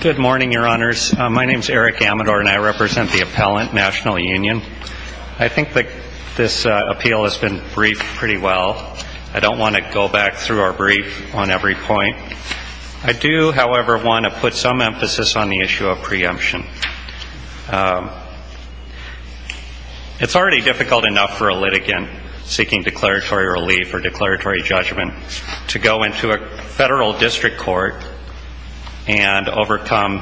Good morning, your honors. My name is Eric Amador and I represent the Appellant National Union. I think that this appeal has been briefed pretty well. I don't want to go back through our brief on every point. I do, however, want to put some emphasis on the issue of preemption. It's already difficult enough for a litigant seeking declaratory relief or declaratory judgment to go into a federal district court and overcome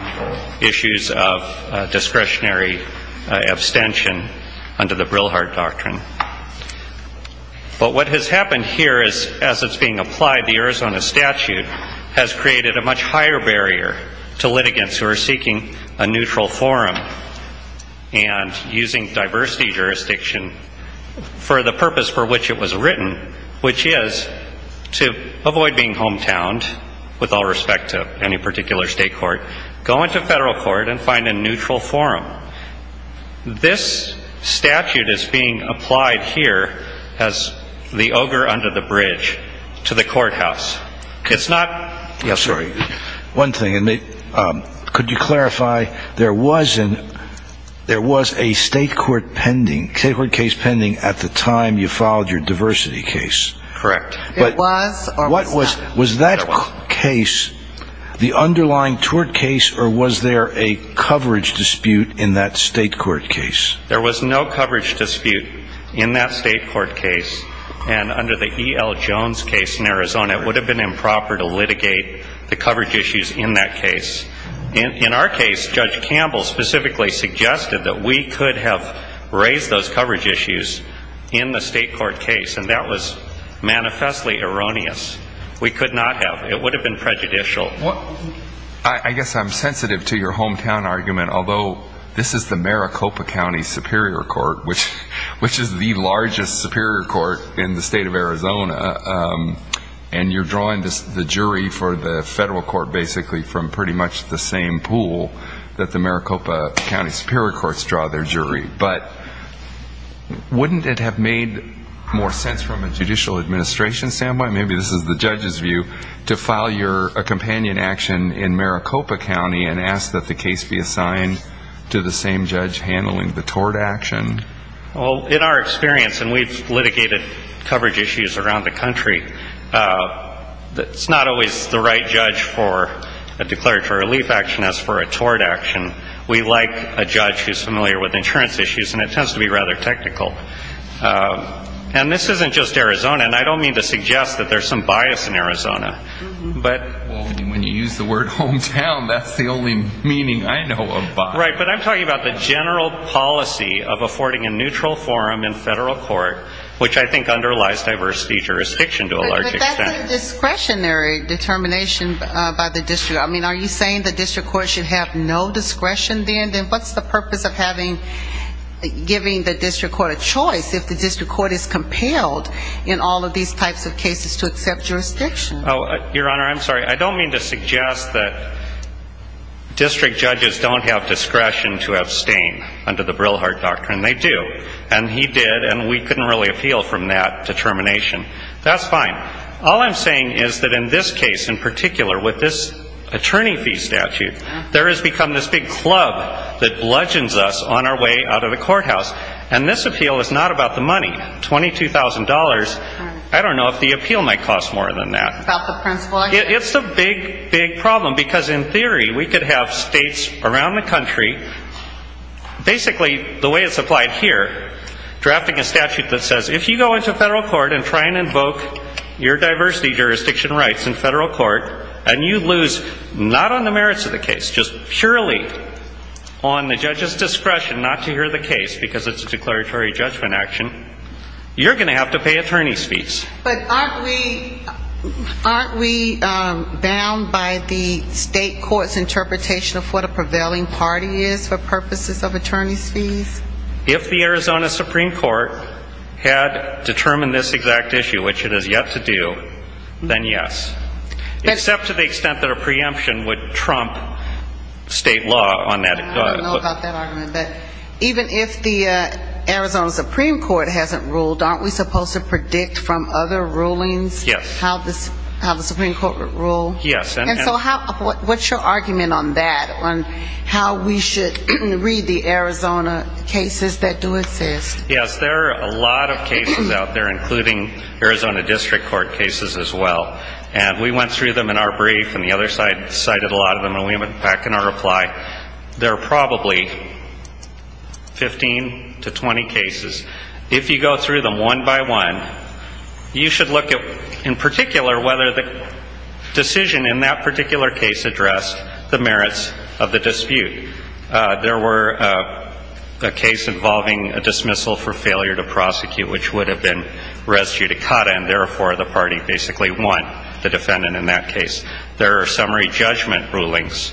issues of discretionary abstention under the Brilhart Doctrine. But what has happened here as it's being applied, the Arizona statute has created a much higher barrier to litigants who are seeking a neutral forum and using diversity jurisdiction for the purpose for which it was written, which is to avoid being hometowned, with all respect to any particular state court, go into federal court and find a neutral forum. This statute is being applied here as the ogre under the bridge to the courthouse. It's not yes, sir. One thing. Could you clarify, there was a state court case pending at the time you filed your diversity case. Was that case the underlying tort case or was there a coverage dispute in that state court case? There was no coverage dispute in that state court case. And under the E.L. Jones case in Arizona, it would have been improper to litigate the coverage issues in that case. In our case, Judge Campbell specifically suggested that we could have raised those coverage issues in the state court case. And that was manifestly erroneous. We could not have. It would have been prejudicial. I guess I'm sensitive to your hometown argument, although this is the Maricopa County Superior Court, which is the largest superior court in the state of Arizona. And you're drawing the jury for the federal court basically from pretty much the same pool that the Maricopa County Superior Courts draw their jury. But wouldn't it have made more sense from a judicial administration standpoint, maybe this is the judge's view, to file a companion action in Well, in our experience, and we've litigated coverage issues around the country, it's not always the right judge for a declaratory relief action as for a tort action. We like a judge who's familiar with insurance issues, and it tends to be rather technical. And this isn't just Arizona. And I don't mean to suggest that there's some bias in Arizona. Well, when you use the word hometown, that's the only meaning I know of bias. Right, but I'm talking about the general policy of affording a neutral forum in federal court, which I think underlies diversity jurisdiction to a large extent. But that's a discretionary determination by the district. I mean, are you saying the district court should have no discretion then? Then what's the purpose of giving the district court a choice if the district court is compelled in all of these types of cases to accept jurisdiction? Your Honor, I'm sorry. I don't mean to suggest that district judges don't have discretion to abstain under the Brillhart Doctrine. They do. And he did, and we couldn't really appeal from that determination. That's fine. All I'm saying is that in this case in particular, with this attorney fee statute, there has become this big club that bludgeons us on our way out of the courthouse. And this appeal is not about the money, $22,000. I don't know if the appeal might cost more than that. It's a big, big problem because in theory, we could have states around the country, basically the way it's applied here, drafting a statute that says if you go into federal court and try and invoke your diversity jurisdiction rights in federal court, and you lose not on the merits of the case, just purely on the judge's discretion not to hear the case because it's a declaratory judgment action, you're going to have to pay attorney's fees. But aren't we bound by the state court's interpretation of what a prevailing party is for purposes of attorney's fees? If the Arizona Supreme Court had determined this exact issue, which it has yet to do, then yes. Except to the extent that a preemption would trump state law on that. I don't know about that argument. But even if the Arizona Supreme Court hasn't ruled, aren't we supposed to predict from other rulings how the Supreme Court would rule? Yes. And so what's your argument on that, on how we should read the Arizona cases that do exist? Yes. There are a lot of cases out there, including Arizona district court cases as well. And we went through them in our brief, and the other side cited a lot of them, and we went back in our reply. There are probably 15 to 20 cases. If you go through them one by one, you should look at, in particular, whether the decision in that particular case addressed the merits of the dispute. There were a case involving a dismissal for failure to prosecute, which would have been therefore the party basically won the defendant in that case. There are summary judgment rulings.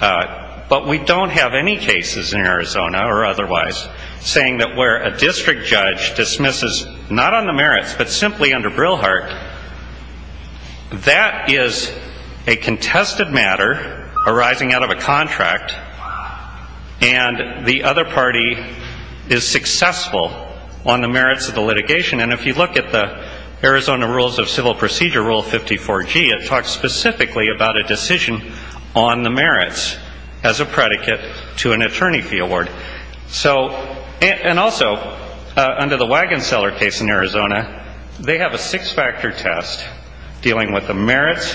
But we don't have any cases in Arizona, or otherwise, saying that where a district judge dismisses not on the merits, but simply under Brilhart, that is a contested matter arising out of a contract, and the other party is successful on the merits of the litigation. And if you look at Arizona Rules of Civil Procedure, Rule 54G, it talks specifically about a decision on the merits as a predicate to an attorney fee award. So, and also, under the Wagon Seller case in Arizona, they have a six-factor test dealing with the merits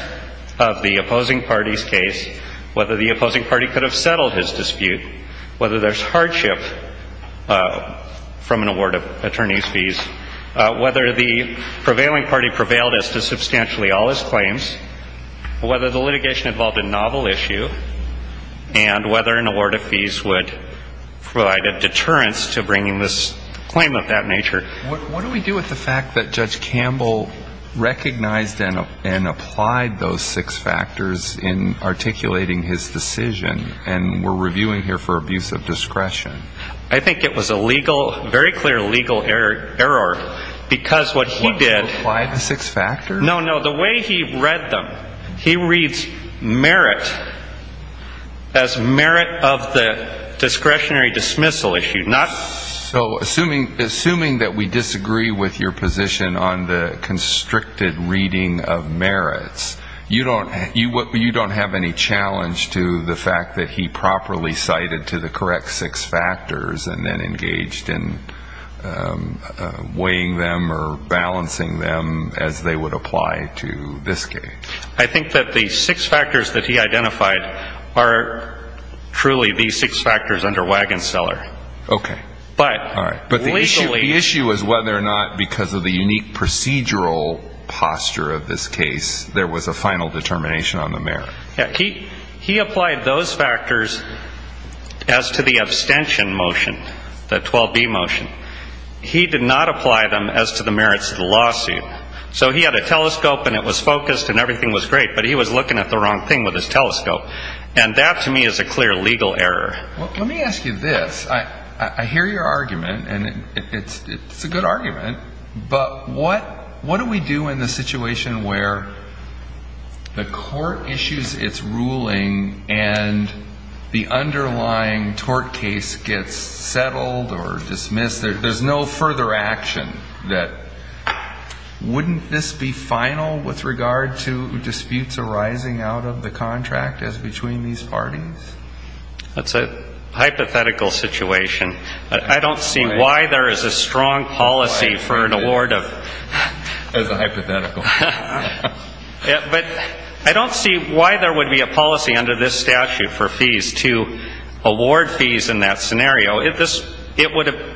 of the opposing party's case, whether the opposing party could have settled his dispute, whether there's hardship from an award of fees, whether the prevailing party prevailed as to substantially all his claims, whether the litigation involved a novel issue, and whether an award of fees would provide a deterrence to bringing this claim of that nature. What do we do with the fact that Judge Campbell recognized and applied those six factors in articulating his decision, and we're No, no, the way he read them, he reads merit as merit of the discretionary dismissal issue, not So, assuming that we disagree with your position on the constricted reading of merits, you don't have any challenge to the fact that he would apply to this case? I think that the six factors that he identified are truly the six factors under Wagon Seller. Okay. All right. But the issue is whether or not, because of the unique procedural posture of this case, there was a final determination on the merit. He applied those factors as to the abstention motion, the 12B motion. He did not apply them as to the merits of the lawsuit. So he had a telescope, and it was focused, and everything was great, but he was looking at the wrong thing with his telescope. And that, to me, is a clear legal error. Well, let me ask you this. I hear your argument, and it's a good argument, but what do we do in the situation where the court issues a ruling and the underlying tort case gets settled or dismissed, there's no further action, that wouldn't this be final with regard to disputes arising out of the contract as between these parties? That's a hypothetical situation. I don't see why there is a strong policy for an award of... That's a hypothetical. But I don't see why there would be a policy under this statute for fees to award fees in that scenario. It would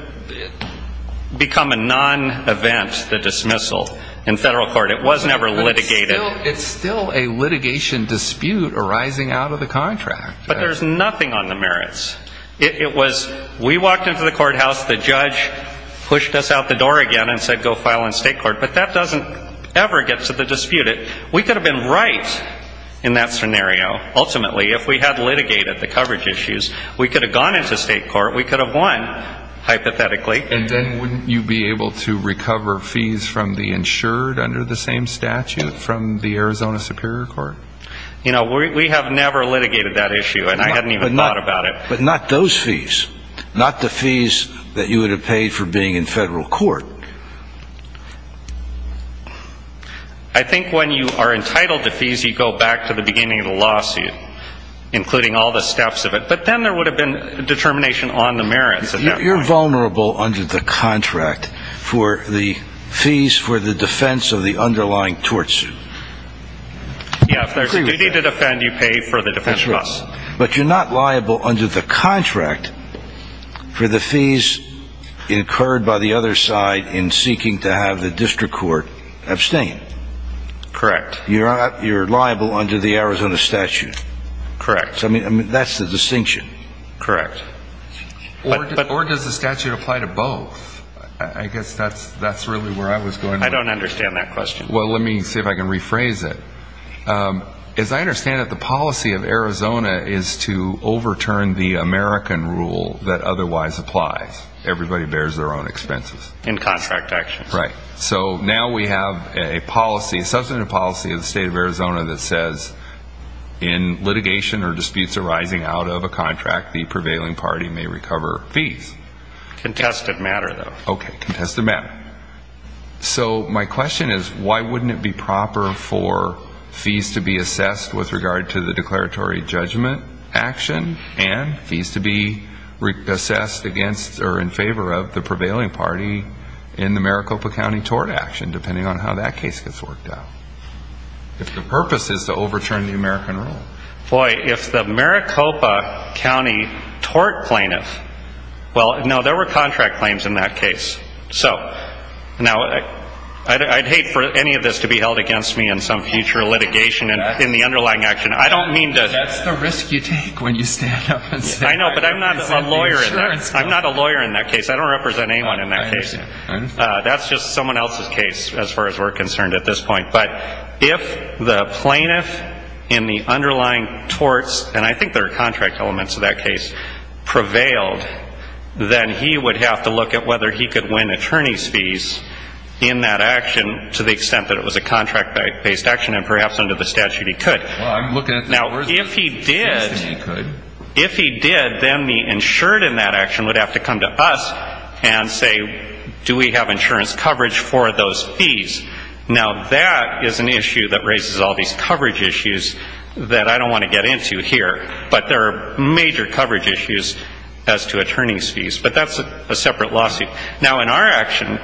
become a non-event, the dismissal, in federal court. It was never litigated. But it's still a litigation dispute arising out of the contract. But there's nothing on the merits. It was we walked into the courthouse, the judge pushed us out the door again and said go file in state court. But that doesn't ever get to the dispute. We could have been right in that scenario, ultimately, if we had litigated the coverage issues. We could have gone into state court. We could have won, hypothetically. And then wouldn't you be able to recover fees from the insured under the same statute from the Arizona Superior Court? You know, we have never litigated that issue. And I hadn't even thought about it. But not those fees. Not the fees that you would have paid for being in federal court. I think when you are entitled to fees, you go back to the beginning of the lawsuit, including all the steps of it. But then there would have been determination on the merits. You're vulnerable under the contract for the fees for the defense of the underlying tort suit. Yeah, if there's a duty to defend, you pay for the defense costs. But you're not liable under the contract for the fees incurred by the other side in seeking to have the district court abstain. Correct. You're liable under the Arizona statute. Correct. I don't understand that question. Well, let me see if I can rephrase it. As I understand it, the policy of Arizona is to overturn the American rule that otherwise applies. Everybody bears their own expenses. In contract actions. Right. So now we have a policy, a substantive policy of the state of Arizona that says in litigation or disputes arising out of a contract, the prevailing party may recover fees. Contested matter, though. Okay. Contested matter. So my question is, why wouldn't it be proper for fees to be assessed with regard to the declaratory judgment action and fees to be assessed against or in favor of the prevailing party in the Maricopa County tort action, depending on how that case gets worked out? If the purpose is to overturn the American rule. Boy, if the Maricopa County tort plaintiff, well, no, there were contract claims in that case. So now I'd hate for any of this to be held against me in some future litigation in the underlying action. I don't mean to. That's the risk you take when you stand up. I know, but I'm not a lawyer. I'm not a lawyer in that case. I don't represent anyone in that case. That's just someone else's case as far as we're concerned at this point. But if the plaintiff in the underlying torts, and I think there are contract elements of that case, prevailed, then he would have to look at whether he could win attorney's fees in that action to the extent that it was a contract-based action and perhaps under the statute he could. Now, if he did, then the insured in that action would have to come to us and say, do we have insurance coverage for those fees? Now, that is an issue that raises all these coverage issues that I don't want to get into here. But there are major coverage issues as to attorney's fees. But that's a separate lawsuit. Now, in our action,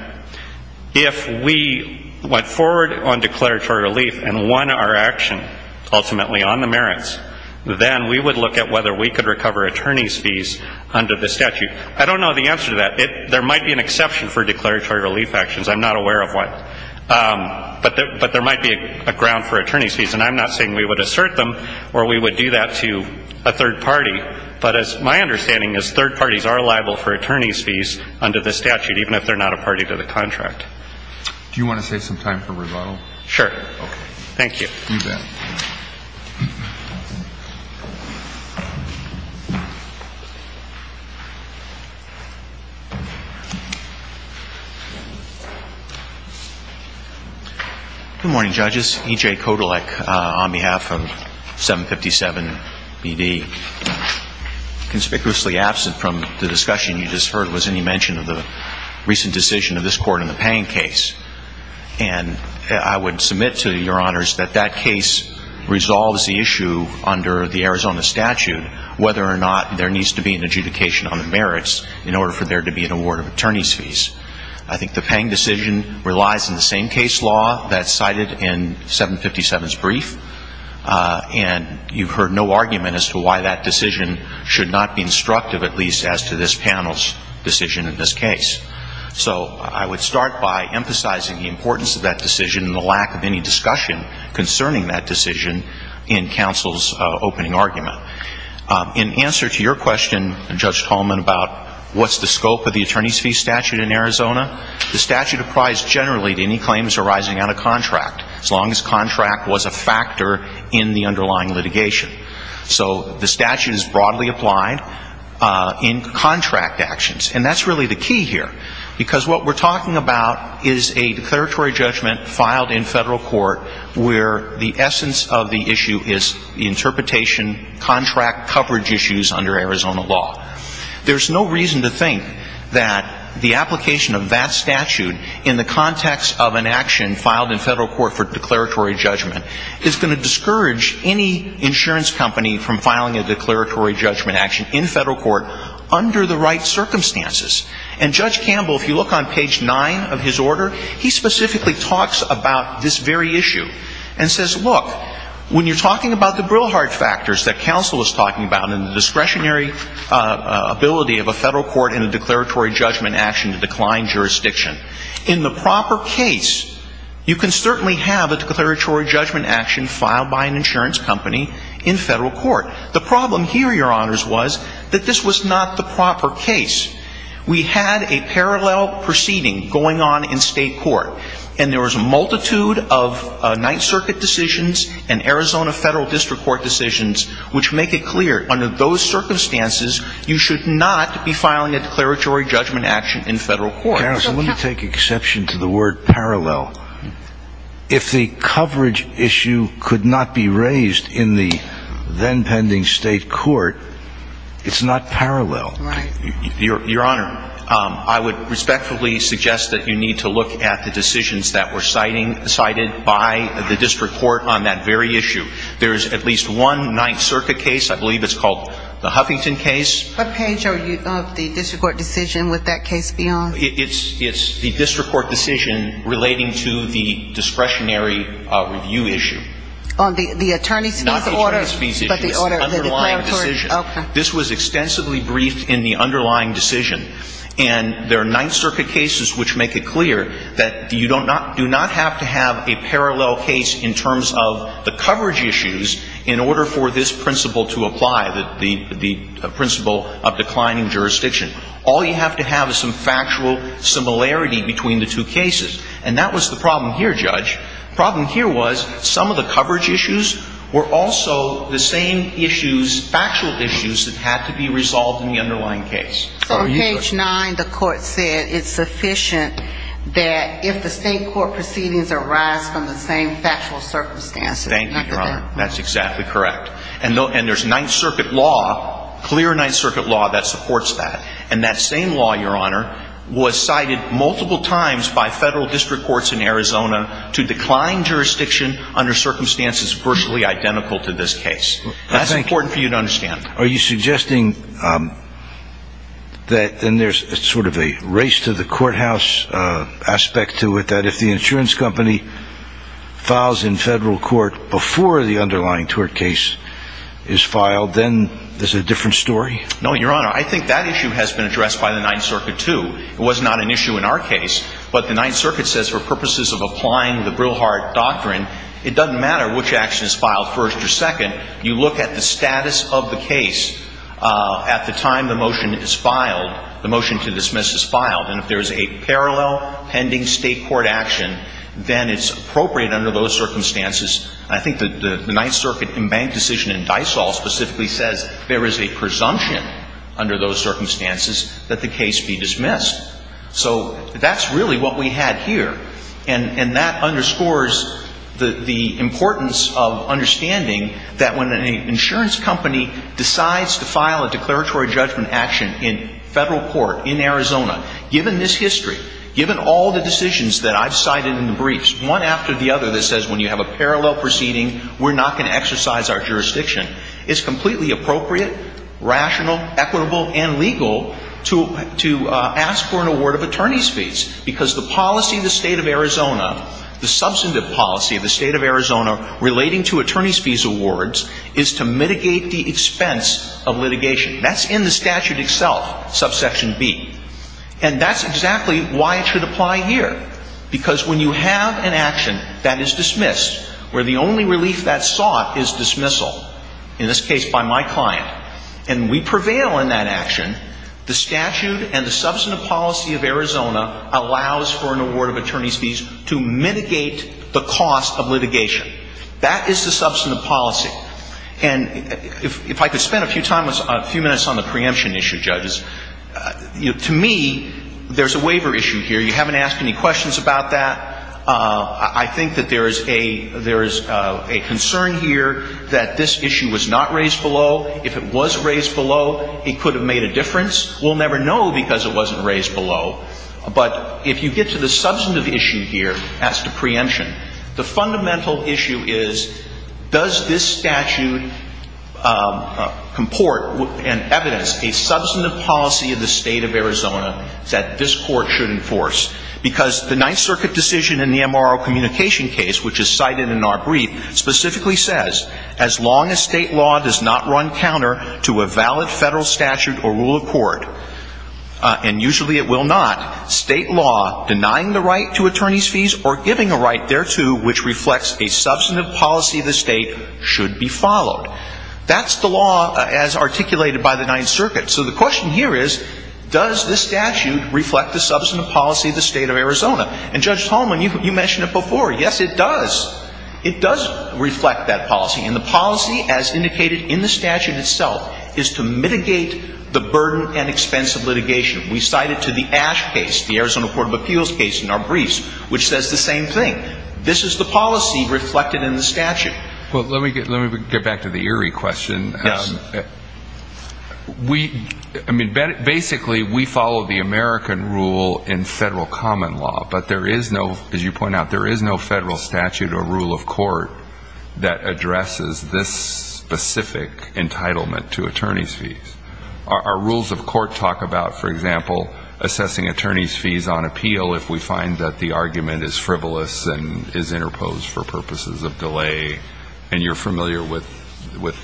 if we went forward on declaratory relief and won our action ultimately on the merits, then we would look at whether we could recover attorney's fees under the statute. I don't know the answer to that. There might be an exception for declaratory relief actions. I'm not aware of one. But there might be a ground for attorney's fees. And I'm not saying we would assert them or we would do that to a third party. But my understanding is third parties are liable for attorney's fees under the statute, even if they're not a party to the contract. Do you want to save some time for rebuttal? Sure. Okay. Thank you. Good morning, judges. E.J. Kodolek on behalf of 757BD. Conspicuously absent from the discussion you just heard was any mention of the recent decision of this court in the Payne case. And I would submit to your honors that that case resolves the issue under the Arizona statute, whether or not there needs to be an adjudication on the merits in order for there to be an award of attorney's fees. I think the Payne decision relies on the same case law that's cited in 757's brief. And you've heard no argument as to why that decision should not be instructive, at least as to this panel's decision in this case. So I would start by emphasizing the importance of that decision and the lack of any discussion concerning that decision in counsel's opening argument. In answer to your question, Judge Tolman, about what's the scope of the attorney's fee statute in Arizona, the statute applies generally to any claims arising out of contract, as long as contract was a factor in the underlying litigation. So the statute is broadly applied in contract actions. And that's really the key here. Because what we're talking about is a declaratory judgment filed in federal court where the essence of the issue is the interpretation, contract coverage issues under Arizona law. There's no reason to think that the application of that statute in the context of an action filed in federal court for declaratory judgment is going to discourage any insurance company from applying that statute. It's going to discourage any insurance company from filing a declaratory judgment action in federal court under the right circumstances. And Judge Campbell, if you look on page 9 of his order, he specifically talks about this very issue and says, look, when you're talking about the Brilhart factors that counsel is talking about and the discretionary ability of a federal court in a declaratory judgment action to decline jurisdiction, in the proper case, you can certainly have a declaratory judgment action filed by an insurance company in federal court. The problem here, Your Honors, was that this was not the proper case. We had a parallel proceeding going on in state court. And there was a multitude of Ninth Circuit decisions and Arizona federal district court decisions which make it clear, under those circumstances, you should not be filing a declaratory judgment action in federal court. And so that's why you have a parallel proceeding going on in state court. And I'm just wondering, in the context of any other cases on the court, if the coverage issue could not be raised in the then-pending state court, it's not parallel. Your Honor, I would respectfully suggest that you need to look at the decisions that were cited by the district court on that very issue. There is at least one Ninth Circuit case. I believe it's called the Huffington case. It's the district court decision relating to the discretionary review issue. On the attorney's fees order? Not the attorney's fees issue. It's the underlying decision. Okay. This was extensively briefed in the underlying decision. And there are Ninth Circuit cases which make it clear that you do not have to have a parallel case in terms of the coverage issues in order for this principle to apply, the principle of declining jurisdiction. All you have to have is some factual similarity between the two cases. And that was the problem here, Judge. The problem here was some of the coverage issues were also the same issues, factual issues, that had to be resolved in the underlying case. So on page 9, the Court said it's sufficient that if the state court proceedings arise from the same factual circumstances. Thank you, Your Honor. That's exactly correct. And there's Ninth Circuit law, clear Ninth Circuit law that supports that. And that same law, Your Honor, was cited multiple times by federal district courts in Arizona to decline jurisdiction under circumstances virtually identical to this case. That's important for you to understand. Are you suggesting that then there's sort of a race to the courthouse aspect to it, that if the insurance company files in federal court before the underlying tort case is filed, then there's a different story? No, Your Honor. I think that issue has been addressed by the Ninth Circuit, too. It was not an issue in our case. But the Ninth Circuit says for purposes of applying the Brilhart doctrine, it doesn't matter which action is filed first or second. You look at the status of the case at the time the motion is filed, the motion to dismiss is filed. And if there's a parallel pending state court action, then it's appropriate under those circumstances. I think the Ninth Circuit embanked decision in Dysol specifically says there is a presumption under those circumstances that the case be dismissed. So that's really what we had here. And that underscores the importance of understanding that when an insurance company decides to file a declaratory judgment action in federal court in Arizona, given this history, given all the decisions that I've cited in the briefs, one after the other that says when you have a parallel proceeding, we're not going to exercise our jurisdiction, it's completely appropriate, rational, equitable, and legal to ask for an award of attorney's fees. Because the policy of the State of Arizona, the substantive policy of the State of Arizona relating to attorney's fees awards is to mitigate the expense of litigation. That's in the statute itself, subsection B. And that's exactly why it should apply here. Because when you have an action that is dismissed, where the only relief that's sought is dismissal, in this case by my client, and we prevail in that action, the statute and the substantive policy of Arizona allows for an award of attorney's fees to mitigate the cost of litigation. That is the substantive policy. And if I could spend a few minutes on the preemption issue, judges, to me, there's a waiver issue here. You haven't asked any questions about that. I think that there is a concern here that this issue was not raised below. If it was raised below, it could have made a difference. We'll never know because it wasn't raised below. But if you get to the substantive issue here, as to preemption, the fundamental issue is, does this statute comport and evidence a substantive policy of the State of Arizona that this Court should enforce? Because the Ninth Circuit decision in the MRO communication case, which is cited in our brief, specifically says, as long as State law does not run counter to a valid Federal statute or rule of court, and usually it will not, State law denying the right to attorney's fees or giving a right thereto which reflects a substantive policy of the State should be followed. That's the law as articulated by the Ninth Circuit. So the question here is, does this statute reflect the substantive policy of the State of Arizona? And, Judge Tolman, you mentioned it before. Yes, it does. It does reflect that policy. And the policy, as indicated in the statute itself, is to mitigate the burden and expense of litigation. We cite it to the Ash case, the Arizona Court of Appeals case in our briefs, which says the same thing. This is the policy reflected in the statute. Well, let me get back to the Erie question. Yes. We, I mean, basically we follow the American rule in Federal common law, but there is no, as you point out, there is no Federal statute or rule of court that addresses this specific entitlement to attorney's fees. Our rules of court talk about, for example, assessing attorney's fees on appeal if we find that the argument is frivolous and is interposed for purposes of delay. And you're familiar with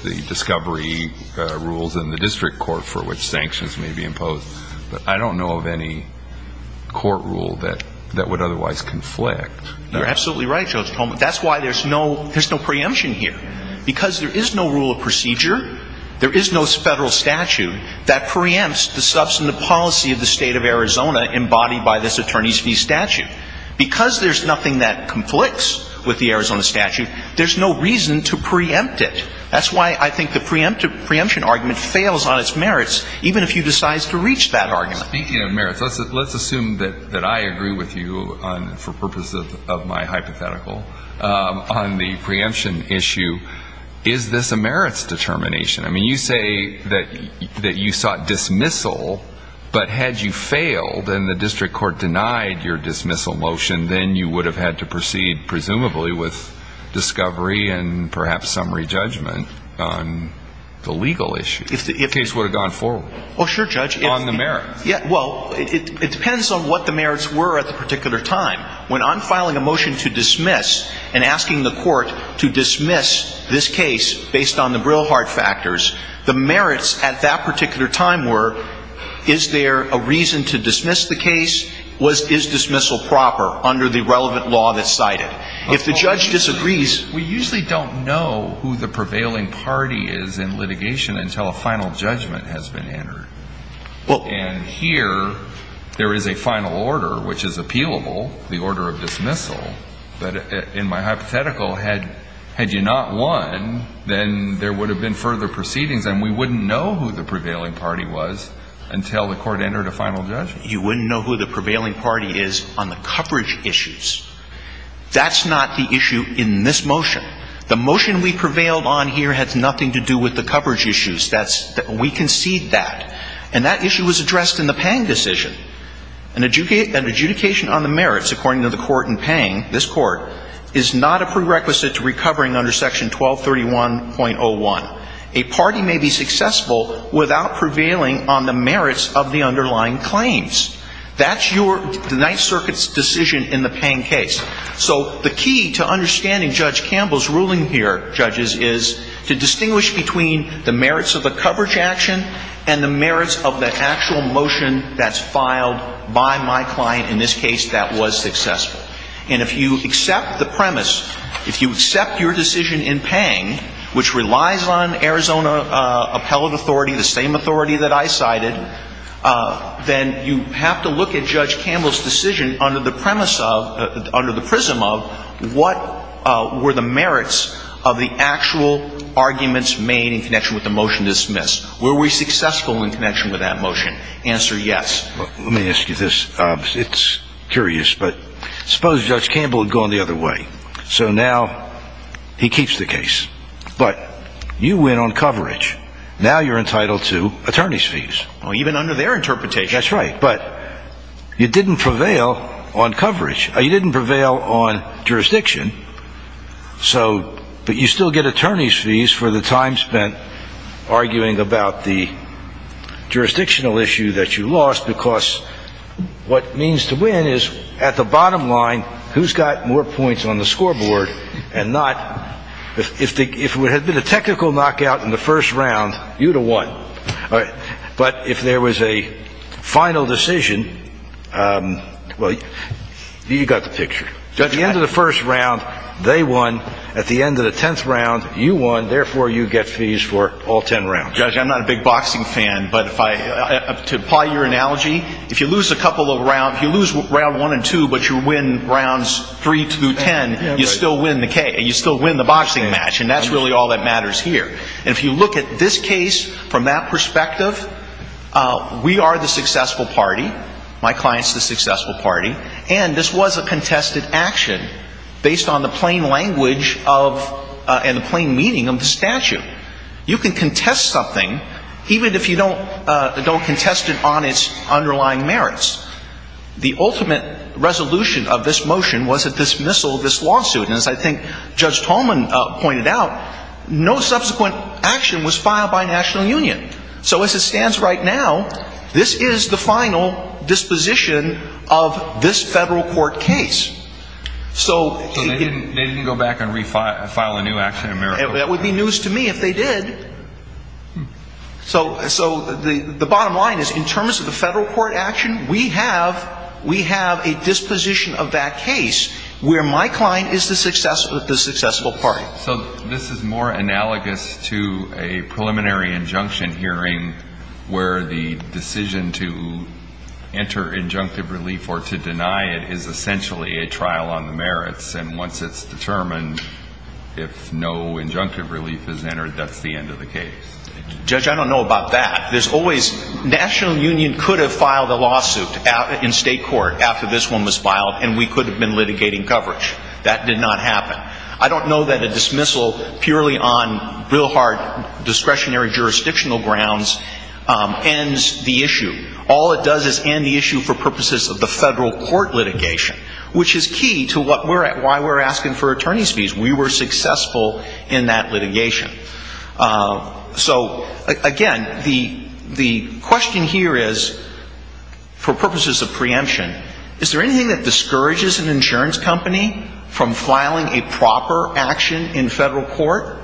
the discovery rules in the district court for which sanctions may be imposed. But I don't know of any court rule that would otherwise conflict. You're absolutely right, Judge Tolman. That's why there's no preemption here, because there is no rule of procedure, there is no Federal statute that preempts the substantive policy of the State of Arizona embodied by this attorney's fee statute. Because there's nothing that conflicts with the Arizona statute, there's no reason to preempt it. That's why I think the preemption argument fails on its merits, even if you decide to reach that argument. Speaking of merits, let's assume that I agree with you on, for purposes of my hypothetical, on the preemption issue, is this a merits determination? I mean, you say that you sought dismissal, but had you failed and the district court denied your dismissal motion, then you would have had to proceed, presumably, with discovery and perhaps summary judgment on the legal issue. The case would have gone forward. Oh, sure, Judge. On the merits. Well, it depends on what the merits were at the particular time. When I'm filing a motion to dismiss and asking the court to dismiss this case based on the Brillhart factors, the merits at that particular time were, is there a reason to dismiss the case? Was his dismissal proper under the relevant law that's cited? If the judge disagrees — We usually don't know who the prevailing party is in litigation until a final judgment has been entered. Well — And here, there is a final order, which is appealable, the order of dismissal. But in my hypothetical, had you not won, then there would have been further proceedings, and we wouldn't know who the prevailing party was until the court entered a final judgment. You wouldn't know who the prevailing party is on the coverage issues. That's not the issue in this motion. The motion we prevailed on here has nothing to do with the coverage issues. That's — we concede that. And that issue was addressed in the Pang decision. An adjudication on the merits, according to the court in Pang, this court, is not a prerequisite to recovering under Section 1231.01. A party may be successful without prevailing on the merits of the underlying claims. That's your Ninth Circuit's decision in the Pang case. is to distinguish between the merits of the coverage action and the merits of the actual motion that's filed by my client. In this case, that was successful. And if you accept the premise, if you accept your decision in Pang, which relies on Arizona appellate authority, the same authority that I cited, then you have to look at Judge Campbell's decision under the premise of — made in connection with the motion dismissed. Were we successful in connection with that motion? Answer, yes. Let me ask you this. It's curious, but suppose Judge Campbell had gone the other way. So now he keeps the case. But you win on coverage. Now you're entitled to attorney's fees. Even under their interpretation. That's right. But you didn't prevail on coverage. You didn't prevail on jurisdiction. But you still get attorney's fees for the time spent arguing about the jurisdictional issue that you lost, because what it means to win is, at the bottom line, who's got more points on the scoreboard and not — if it had been a technical knockout in the first round, you would have won. But if there was a final decision — well, you've got the picture. At the end of the first round, they won. At the end of the tenth round, you won. Therefore, you get fees for all ten rounds. Judge, I'm not a big boxing fan, but if I — to apply your analogy, if you lose a couple of rounds — if you lose round one and two, but you win rounds three through ten, you still win the K. You still win the boxing match. And that's really all that matters here. And if you look at this case from that perspective, we are the successful party. My client's the successful party. And this was a contested action based on the plain language of — and the plain meaning of the statute. You can contest something even if you don't contest it on its underlying merits. The ultimate resolution of this motion was a dismissal of this lawsuit. And as I think Judge Tolman pointed out, no subsequent action was filed by National Union. So as it stands right now, this is the final disposition of this federal court case. So — So they didn't go back and refile a new action in America? That would be news to me if they did. So the bottom line is, in terms of the federal court action, we have a disposition of that case where my client is the successful party. So this is more analogous to a preliminary injunction hearing where the decision to enter injunctive relief or to deny it is essentially a trial on the merits. And once it's determined if no injunctive relief is entered, that's the end of the case. Judge, I don't know about that. There's always — National Union could have filed a lawsuit in state court after this one was filed, and we could have been litigating coverage. That did not happen. I don't know that a dismissal purely on real hard discretionary jurisdictional grounds ends the issue. All it does is end the issue for purposes of the federal court litigation, which is key to why we're asking for attorney's fees. We were successful in that litigation. So, again, the question here is, for purposes of preemption, is there anything that discourages an insurance company from filing a proper action in federal court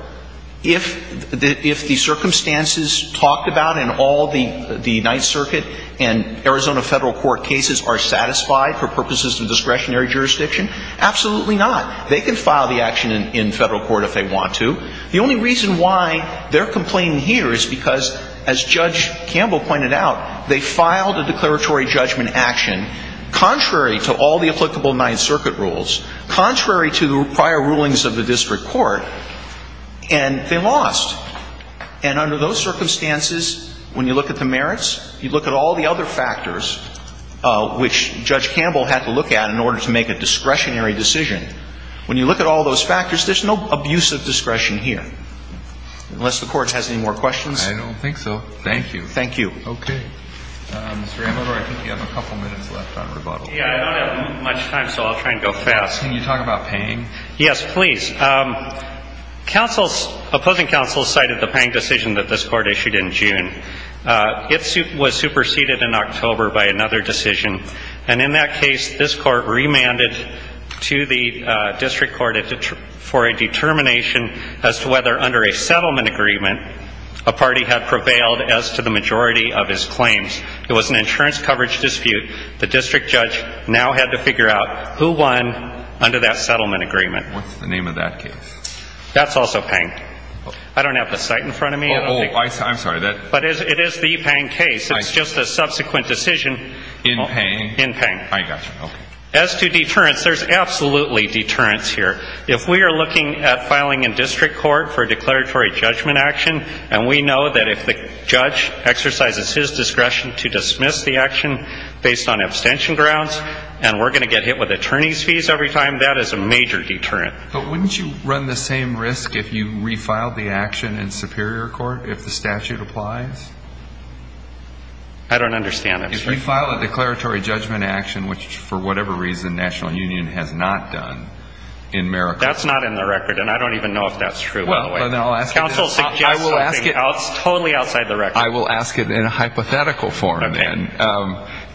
if the circumstances talked about in all the Ninth Circuit and Arizona federal court cases are satisfied for purposes of discretionary jurisdiction? Absolutely not. They can file the action in federal court if they want to. The only reason why they're complaining here is because, as Judge Campbell pointed out, they filed a declaratory judgment action contrary to all the applicable Ninth Circuit rules, contrary to prior rulings of the district court, and they lost. And under those circumstances, when you look at the merits, you look at all the other factors which Judge Campbell had to look at in order to make a discretionary decision. When you look at all those factors, there's no abuse of discretion here, unless the Court has any more questions. I don't think so. Thank you. Thank you. Okay. Mr. Amador, I think you have a couple minutes left on rebuttal. Yeah, I don't have much time, so I'll try and go fast. Can you talk about Pang? Yes, please. Opposing counsel cited the Pang decision that this Court issued in June. It was superseded in October by another decision. And in that case, this Court remanded to the district court for a determination as to whether under a settlement agreement a party had prevailed as to the majority of his claims. It was an insurance coverage dispute. The district judge now had to figure out who won under that settlement agreement. What's the name of that case? That's also Pang. I don't have the site in front of me. Oh, I'm sorry. But it is the Pang case. It's just a subsequent decision in Pang. I got you. As to deterrence, there's absolutely deterrence here. If we are looking at filing in district court for a declaratory judgment action, and we know that if the judge exercises his discretion to dismiss the action based on abstention grounds and we're going to get hit with attorney's fees every time, that is a major deterrent. But wouldn't you run the same risk if you refiled the action in superior court if the statute applies? I don't understand abstention. If you file a declaratory judgment action, which, for whatever reason, National Union has not done in Merica. That's not in the record, and I don't even know if that's true, by the way. Counsel suggests something else totally outside the record. I will ask it in a hypothetical form, then.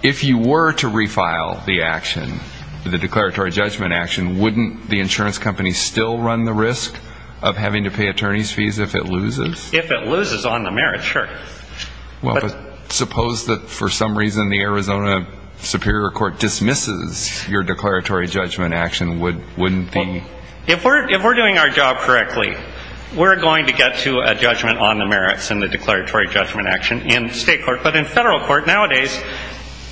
If you were to refile the action, the declaratory judgment action, wouldn't the insurance company still run the risk of having to pay attorney's fees if it loses? If it loses on the merit, sure. Well, but suppose that for some reason the Arizona Superior Court dismisses your declaratory judgment action, wouldn't the ---- If we're doing our job correctly, we're going to get to a judgment on the merits in the declaratory judgment action in state court. But in federal court nowadays,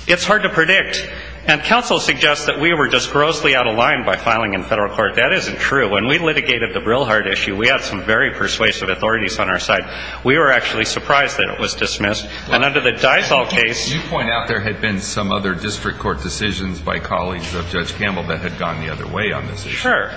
it's hard to predict. And counsel suggests that we were just grossly out of line by filing in federal court. That isn't true. When we litigated the Brilhart issue, we had some very persuasive authorities on our side. We were actually surprised that it was dismissed. And under the Daisal case ---- You point out there had been some other district court decisions by colleagues of Judge Campbell that had gone the other way on this issue. Sure.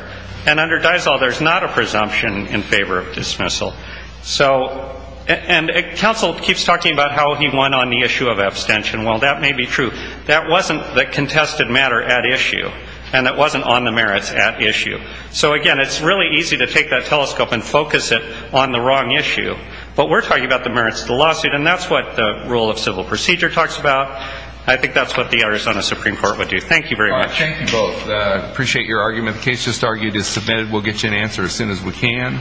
And under Daisal, there's not a presumption in favor of dismissal. So, and counsel keeps talking about how he won on the issue of abstention. Well, that may be true. That wasn't the contested matter at issue, and it wasn't on the merits at issue. So, again, it's really easy to take that telescope and focus it on the wrong issue. But we're talking about the merits of the lawsuit, and that's what the rule of civil procedure talks about. I think that's what the Arizona Supreme Court would do. Thank you very much. Thank you both. I appreciate your argument. The case just argued is submitted. We'll get you an answer as soon as we can.